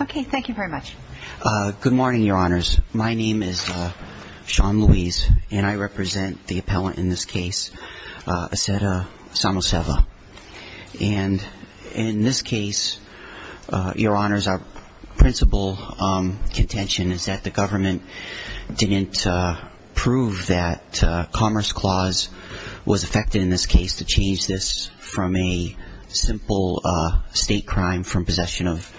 Okay, thank you very much. Good morning, Your Honors. My name is Sean Louise and I represent the appellant in this case, Assata Samuseva. And in this case, Your Honors, our principal contention is that the government didn't prove that Commerce Clause was affected in this case to change this from a simple state crime from possession of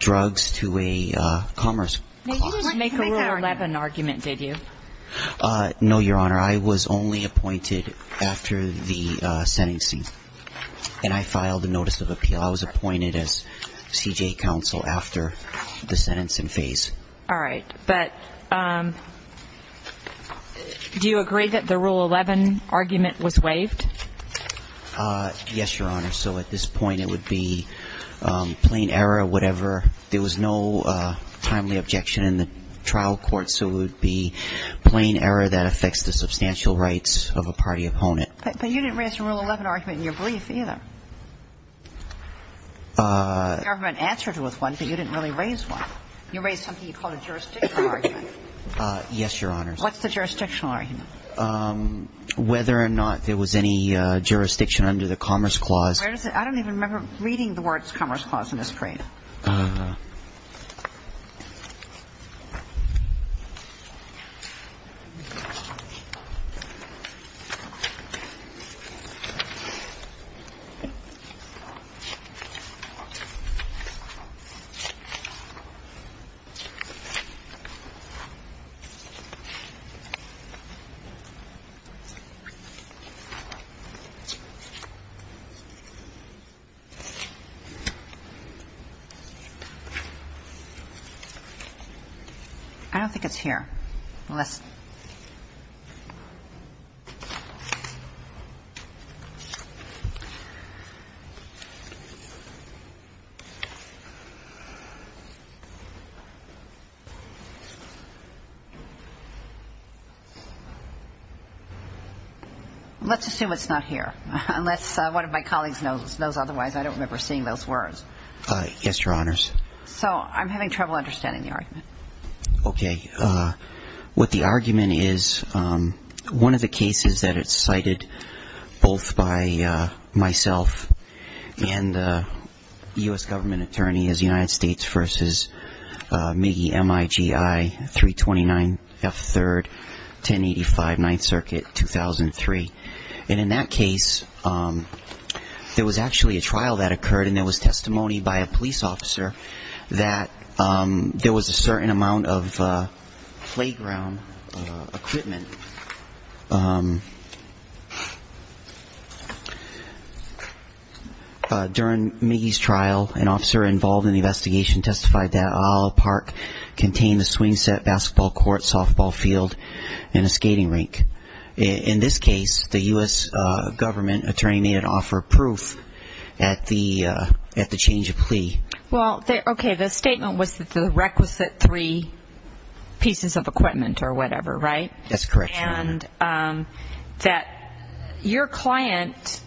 drugs to a Commerce Clause. You didn't make a Rule 11 argument, did you? No, Your Honor. I was only appointed after the sentencing. And I filed a Notice of Appeal. I was appointed as CJA counsel after the sentencing phase. All right. But do you agree that the Rule 11 argument was waived? Yes, Your Honor. So at this point, it would be plain error, whatever. There was no timely objection in the trial court, so it would be plain error that affects the substantial rights of a party opponent. But you didn't raise a Rule 11 argument in your brief, either. The government answered with one, but you didn't really raise one. You raised something you called a jurisdictional argument. Yes, Your Honor. What's the jurisdictional argument? Whether or not there was any jurisdiction under the Commerce Clause. I don't even remember reading the words Commerce Clause in this brief. I don't think it's here. Let's assume it's not here. Unless one of my colleagues knows otherwise, I don't remember seeing those words. Yes, Your Honors. So I'm having trouble understanding the argument. Okay. What the argument is, one of the cases that it's cited both by myself and the U.S. government attorney is the United States v. MIGI 329F3rd. And the United States v. MIGI 329F3rd, 1085 9th Circuit, 2003. And in that case, there was actually a trial that occurred and there was testimony by a police officer that there was a certain amount of playground equipment. During MIGI's trial, an officer involved in the investigation testified that there was a playground equipment and a skating rink. In this case, the U.S. government attorney had offered proof at the change of plea. Well, okay, the statement was that the requisite three pieces of equipment or whatever, right? That's correct, Your Honor. And that your client,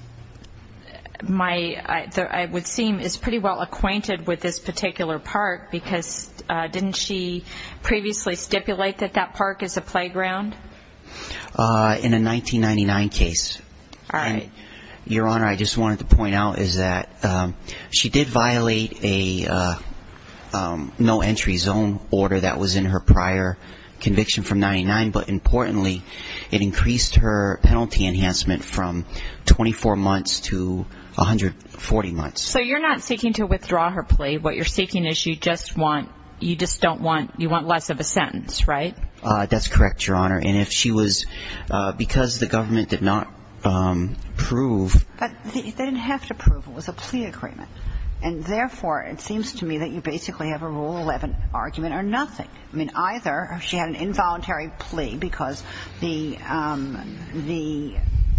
I would seem, is pretty well acquainted with this particular park because didn't she previously stipulate that that park is a playground? In a 1999 case. All right. Your Honor, I just wanted to point out is that she did violate a no entry zone order that was in her prior conviction from 99, but importantly, it increased her penalty enhancement from 24 months to 140 months. So you're not seeking to withdraw her plea. What you're seeking is you just want, you just don't want, you want less of a sentence, right? That's correct, Your Honor. And if she was because the government did not prove But they didn't have to prove it was a plea agreement. And therefore, it seems to me that you basically have a Rule 11 argument or nothing. I mean, either she had an involuntary plea because the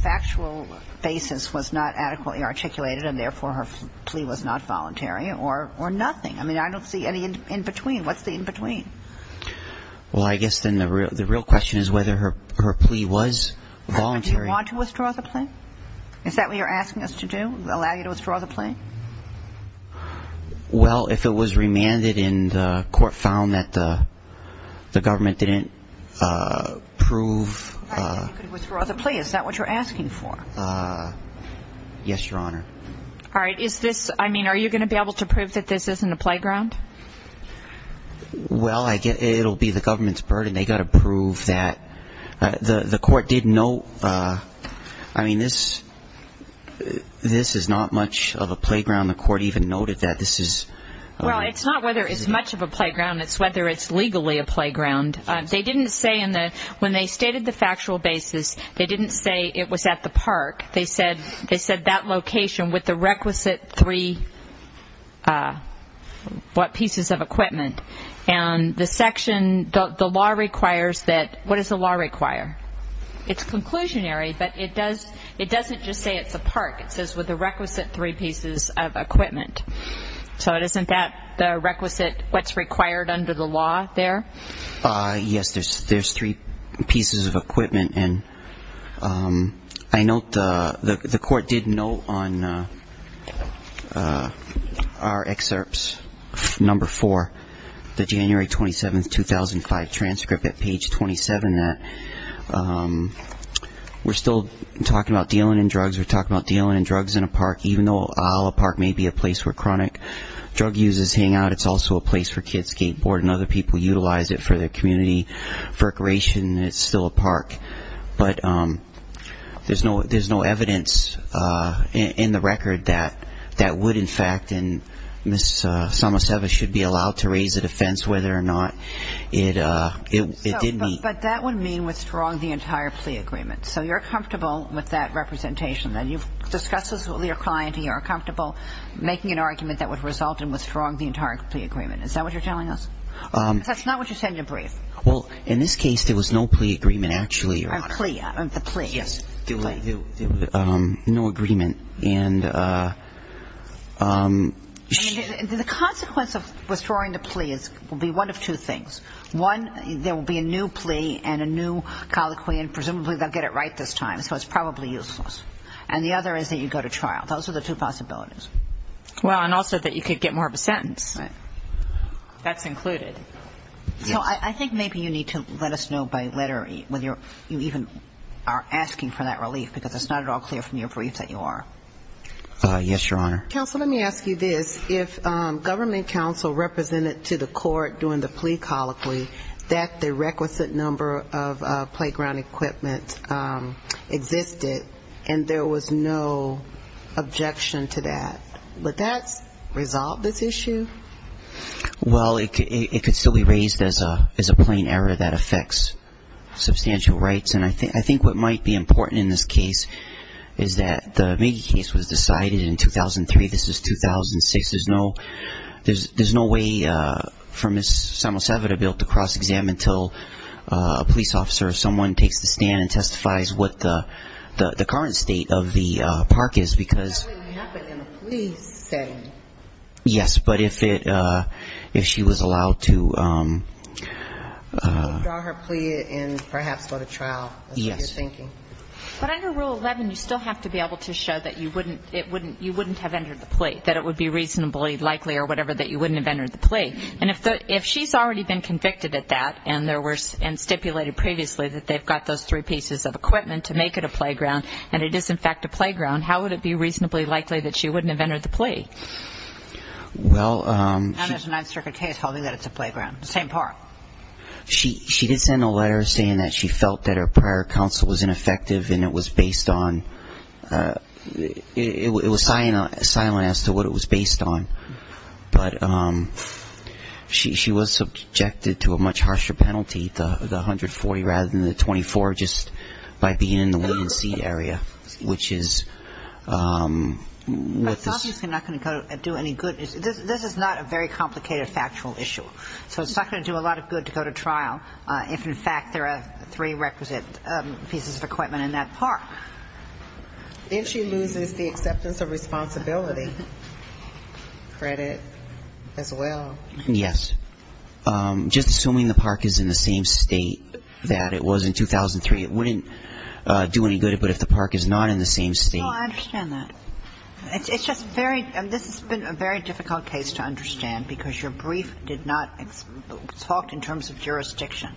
factual basis was not adequately articulated and therefore her plea was not voluntary or nothing. I mean, I don't see any in between. What's the in between? Well, I guess then the real question is whether her plea was voluntary. Do you want to withdraw the plea? Is that what you're asking us to do, allow you to withdraw the plea? Well, if it was remanded and the court found that the government didn't prove You could withdraw the plea. Is that what you're asking for? Yes, Your Honor. All right. Is this, I mean, are you going to be able to prove that this isn't a playground? Well, I guess it will be the government's burden. They've got to prove that. The court did note, I mean, this is not much of a playground. The court even noted that this is Well, it's not whether it's much of a playground. It's whether it's legally a playground. They didn't say in the, when they stated the factual basis, they didn't say it was at the park. They said that location with the requisite three pieces of equipment. And the section, the law requires that, what does the law require? It's conclusionary, but it doesn't just say it's a park. It says with the requisite three pieces of equipment. So isn't that the requisite, what's required under the law there? Yes, there's three pieces of equipment. And I note the court did note on our excerpts, number four, the January 27, 2005 transcript at page 27, that we're still talking about dealing in drugs. We're talking about dealing in drugs in a park, even though Isla Park may be a place where chronic drug users hang out. It's also a place for kids skateboarding. Other people utilize it for their community recreation. It's still a park. But there's no evidence in the record that that would, in fact, and Ms. Samoseva should be allowed to raise a defense whether or not it did meet. But that would mean withdrawing the entire plea agreement. So you're comfortable with that representation. You've discussed this with your client and you're comfortable making an argument that would result in withdrawing the entire plea agreement. Is that what you're telling us? Because that's not what you said in your brief. Well, in this case, there was no plea agreement actually. The plea. Yes. No agreement. And the consequence of withdrawing the plea will be one of two things. One, there will be a new plea and a new colloquy, and presumably they'll get it right this time, so it's probably useless. And the other is that you go to trial. Those are the two possibilities. Well, and also that you could get more of a sentence. Right. That's included. So I think maybe you need to let us know by letter whether you even are asking for that relief because it's not at all clear from your brief that you are. Yes, Your Honor. Counsel, let me ask you this. If government counsel represented to the court during the plea colloquy that the requisite number of playground equipment existed and there was no objection to that, would that resolve this issue? Well, it could still be raised as a plain error that affects substantial rights, and I think what might be important in this case is that the Magee case was decided in 2003. This is 2006. There's no way for Ms. Samosevita to be able to cross-examine until a police officer or someone takes the stand and testifies what the current state of the park is because ---- That would happen in a plea setting. Yes, but if she was allowed to ---- Draw her plea and perhaps go to trial. That's what you're thinking. But under Rule 11, you still have to be able to show that you wouldn't have entered the plea, that it would be reasonably likely or whatever that you wouldn't have entered the plea. And if she's already been convicted at that and stipulated previously that they've got those three pieces of equipment to make it a playground and it is, in fact, a playground, how would it be reasonably likely that she wouldn't have entered the plea? Well, she ---- Now there's a Ninth Circuit case holding that it's a playground, the same park. She did send a letter saying that she felt that her prior counsel was ineffective and it was based on ---- it was silent as to what it was based on. But she was subjected to a much harsher penalty, the 140 rather than the 24, just by being in the one-seat area, which is what this ---- I thought she was not going to do any good. This is not a very complicated factual issue. So it's not going to do a lot of good to go to trial if, in fact, there are three requisite pieces of equipment in that park. If she loses the acceptance of responsibility credit as well. Yes. Just assuming the park is in the same state that it was in 2003, it wouldn't do any good. But if the park is not in the same state ---- No, I understand that. It's just very ---- this has been a very difficult case to understand because your brief did not talk in terms of jurisdiction.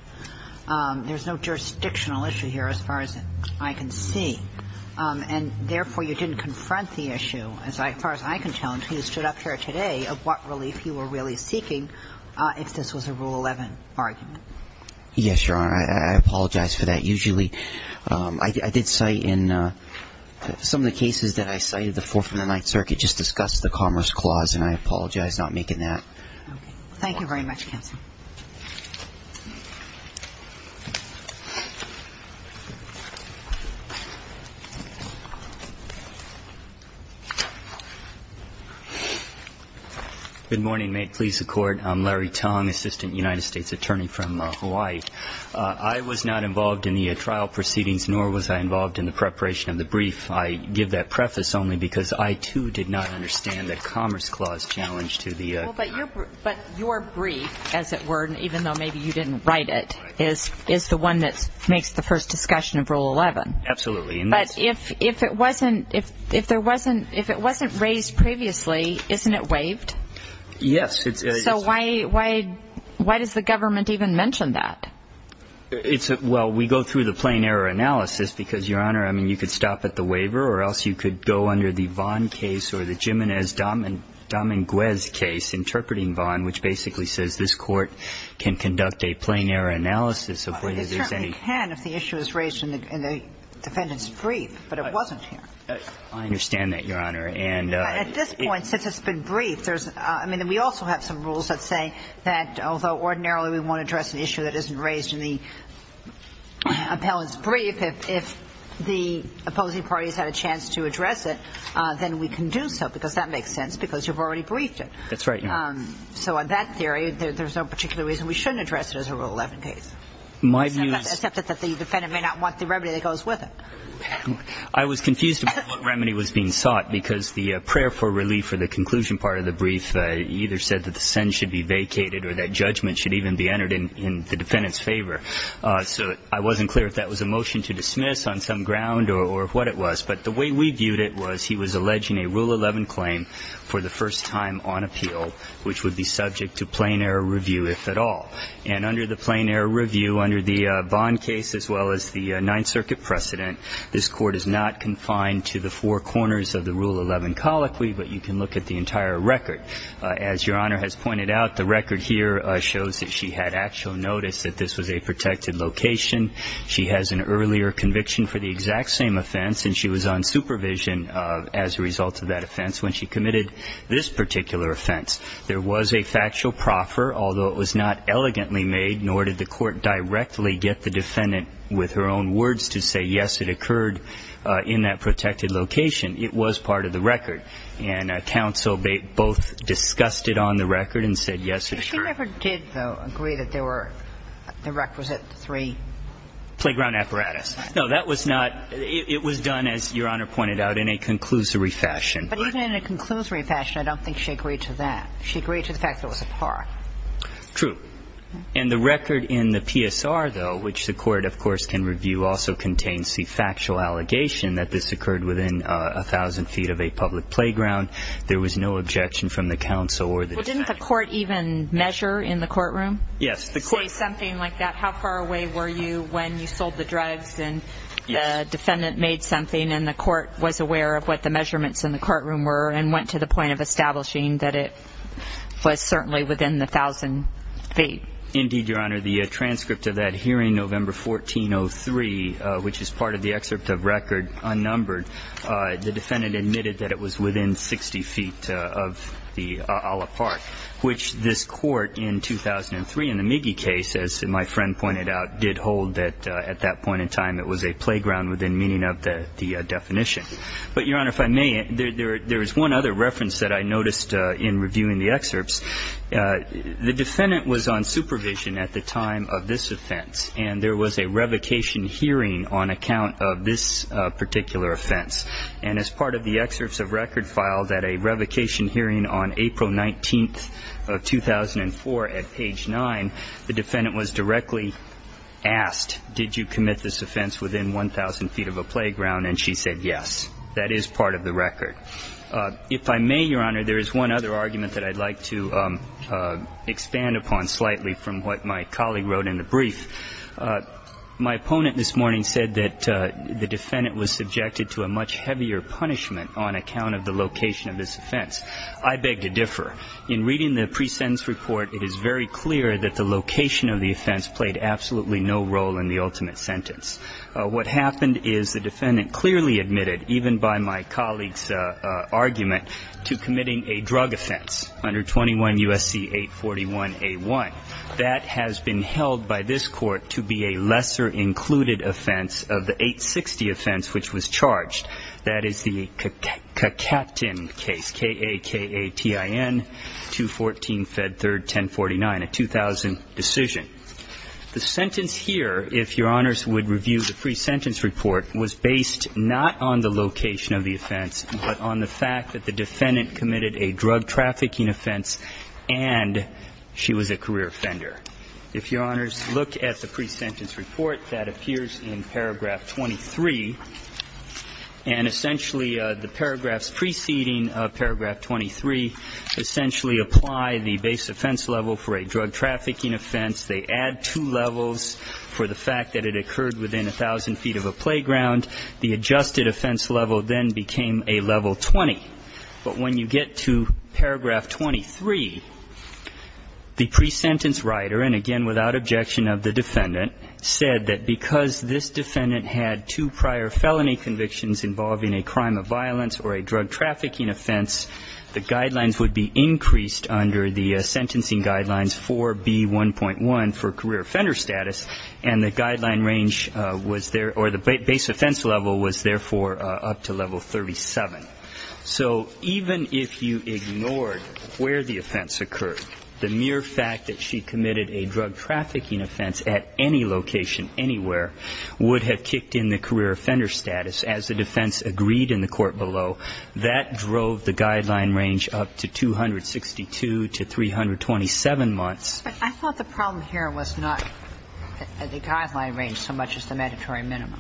There's no jurisdictional issue here as far as I can see. And therefore, you didn't confront the issue, as far as I can tell, of what relief you were really seeking if this was a Rule 11 argument. Yes, Your Honor. I apologize for that. Usually I did cite in some of the cases that I cited, the Fourth and the Ninth Circuit, just discussed the Commerce Clause, and I apologize not making that. Okay. Thank you very much, Counsel. Good morning. May it please the Court. I'm Larry Tong, Assistant United States Attorney from Hawaii. I was not involved in the trial proceedings, nor was I involved in the preparation of the brief. I give that preface only because I, too, did not understand that Commerce Clause challenged to the ---- Well, but your brief, as it were, even though maybe you didn't write it, is the one that makes the first discussion of Rule 11. Absolutely. But if it wasn't raised previously, isn't it waived? Yes. So why does the government even mention that? Well, we go through the plain error analysis because, Your Honor, I mean you could stop at the waiver or else you could go under the Vaughn case or the Jimenez-Damenguez case interpreting Vaughn, which basically says this Court can conduct a plain error analysis of whether there's any ---- It certainly can if the issue is raised in the defendant's brief, but it wasn't here. I understand that, Your Honor. And ---- At this point, since it's been briefed, there's ---- I mean, we also have some rules that say that although ordinarily we want to address an issue that isn't raised in the appellant's brief, if the opposing parties had a chance to address it, then we can do so because that makes sense because you've already briefed it. That's right, Your Honor. So on that theory, there's no particular reason we shouldn't address it as a Rule 11 case. My view is ---- Except that the defendant may not want the remedy that goes with it. I was confused about what remedy was being sought because the prayer for relief or the conclusion part of the brief either said that the sentence should be vacated or that judgment should even be entered in the defendant's favor. So I wasn't clear if that was a motion to dismiss on some ground or what it was. But the way we viewed it was he was alleging a Rule 11 claim for the first time on appeal, which would be subject to plain error review, if at all. And under the plain error review, under the Bond case as well as the Ninth Circuit precedent, this Court is not confined to the four corners of the Rule 11 colloquy, but you can look at the entire record. As Your Honor has pointed out, the record here shows that she had actual notice that this was a protected location. She has an earlier conviction for the exact same offense, and she was on supervision as a result of that offense when she committed this particular offense. There was a factual proffer, although it was not elegantly made, nor did the Court directly get the defendant with her own words to say yes, it occurred in that protected location. It was part of the record. And counsel both discussed it on the record and said yes, it occurred. But the Court never did, though, agree that there were the requisite three? Playground apparatus. No, that was not – it was done, as Your Honor pointed out, in a conclusory fashion. But even in a conclusory fashion, I don't think she agreed to that. She agreed to the fact that it was a par. True. And the record in the PSR, though, which the Court, of course, can review, also contains the factual allegation that this occurred within a thousand feet of a public playground. There was no objection from the counsel or the defendant. Well, didn't the Court even measure in the courtroom? Yes. Say something like that? How far away were you when you sold the drugs and the defendant made something and the Court was aware of what the measurements in the courtroom were and went to the point of establishing that it was certainly within the thousand feet? Indeed, Your Honor. The transcript of that hearing, November 1403, which is part of the excerpt of record, unnumbered, the defendant admitted that it was within 60 feet of the public playground, which this Court in 2003 in the Miggie case, as my friend pointed out, did hold that at that point in time it was a playground within meaning of the definition. But, Your Honor, if I may, there is one other reference that I noticed in reviewing the excerpts. The defendant was on supervision at the time of this offense, and there was a revocation hearing on account of this particular offense. And as part of the excerpts of record filed at a revocation hearing on April 19th of 2004 at page 9, the defendant was directly asked, did you commit this offense within 1,000 feet of a playground? And she said yes. That is part of the record. If I may, Your Honor, there is one other argument that I'd like to expand upon slightly from what my colleague wrote in the brief. My opponent this morning said that the defendant was subjected to a much heavier punishment on account of the location of this offense. I beg to differ. In reading the pre-sentence report, it is very clear that the location of the offense played absolutely no role in the ultimate sentence. What happened is the defendant clearly admitted, even by my colleague's argument, to committing a drug offense under 21 U.S.C. 841A1. That has been held by this Court to be a lesser included offense of the 860 offense which was charged. That is the Kakatin case, K-A-K-A-T-I-N, 214 Fed 3rd, 1049, a 2000 decision. The sentence here, if Your Honors would review the pre-sentence report, was based not on the location of the offense, but on the fact that the defendant committed a drug trafficking offense and she was a career offender. If Your Honors look at the pre-sentence report that appears in paragraph 23, and essentially the paragraphs preceding paragraph 23 essentially apply the base offense level for a drug trafficking offense. They add two levels for the fact that it occurred within a thousand feet of a playground. The adjusted offense level then became a level 20. But when you get to paragraph 23, the pre-sentence writer, and again without objection of the defendant, said that because this defendant had two prior felony convictions involving a crime of violence or a drug trafficking offense, the guidelines would be increased under the sentencing guidelines 4B1.1 for career offender status, and the guideline range was there, or the base offense level was therefore up to level 37. So even if you ignored where the offense occurred, the mere fact that she committed a drug trafficking offense at any location anywhere would have kicked in the career offender status as the defense agreed in the court below. That drove the guideline range up to 262 to 327 months. But I thought the problem here was not the guideline range so much as the mandatory minimum.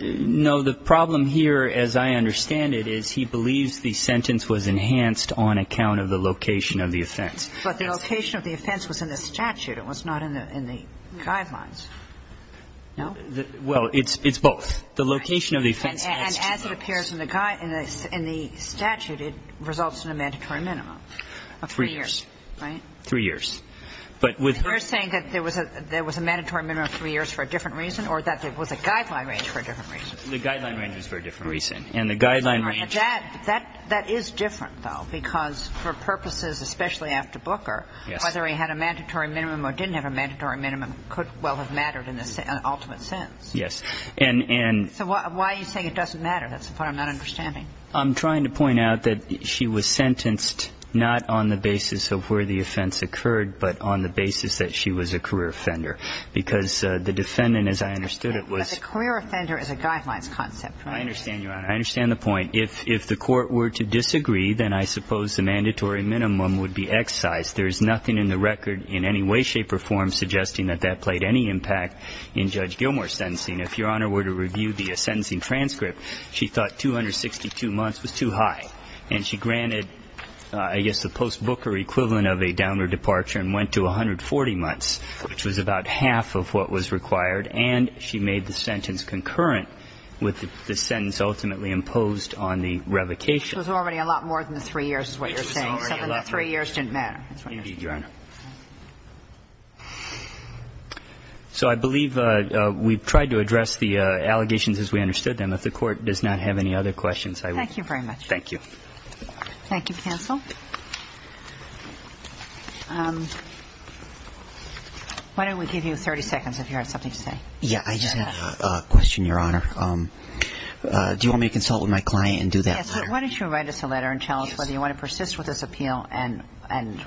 No. The problem here, as I understand it, is he believes the sentence was enhanced on account of the location of the offense. But the location of the offense was in the statute. It was not in the guidelines. No? Well, it's both. The location of the offense adds two levels. And as it appears in the statute, it results in a mandatory minimum of three years. Right. Three years. We're saying that there was a mandatory minimum of three years for a different reason, or that there was a guideline range for a different reason? The guideline range was for a different reason. And the guideline range was for a different reason. And that is different, though, because for purposes, especially after Booker, whether he had a mandatory minimum or didn't have a mandatory minimum could well have mattered in the ultimate sense. Yes. So why are you saying it doesn't matter? That's what I'm not understanding. I'm trying to point out that she was sentenced not on the basis of where the offense occurred, but on the basis that she was a career offender. Because the defendant, as I understood it, was ---- But the career offender is a guidelines concept, right? I understand, Your Honor. I understand the point. If the court were to disagree, then I suppose the mandatory minimum would be excised. There is nothing in the record in any way, shape or form suggesting that that played any impact in Judge Gilmour's sentencing. If Your Honor were to review the sentencing transcript, she thought 262 months was too high. And she granted, I guess, the post-Booker equivalent of a downward departure and went to 140 months, which was about half of what was required. And she made the sentence concurrent with the sentence ultimately imposed on the revocation. It was already a lot more than three years is what you're saying. It was already a lot more than three years. Something that three years didn't matter. Indeed, Your Honor. So I believe we've tried to address the allegations as we understood them. If the court does not have any other questions, I will. Thank you very much. Thank you. Thank you, counsel. Why don't we give you 30 seconds if you have something to say. Yes. I just have a question, Your Honor. Do you want me to consult with my client and do that? Yes. Why don't you write us a letter and tell us whether you want to persist with this and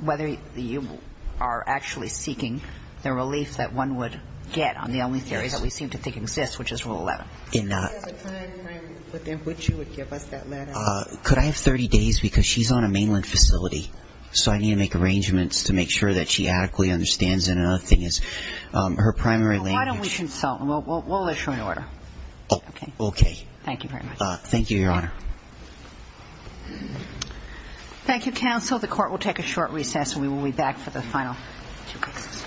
whether you are actually seeking the relief that one would get on the only theory that we seem to think exists, which is Rule 11. Could I have the time frame within which you would give us that letter? Could I have 30 days? Because she's on a mainland facility. So I need to make arrangements to make sure that she adequately understands. And another thing is her primary language. Why don't we consult? We'll issue an order. Okay. Okay. Thank you very much. Thank you, Your Honor. Thank you, counsel. Counsel, the court will take a short recess and we will be back for the final two cases.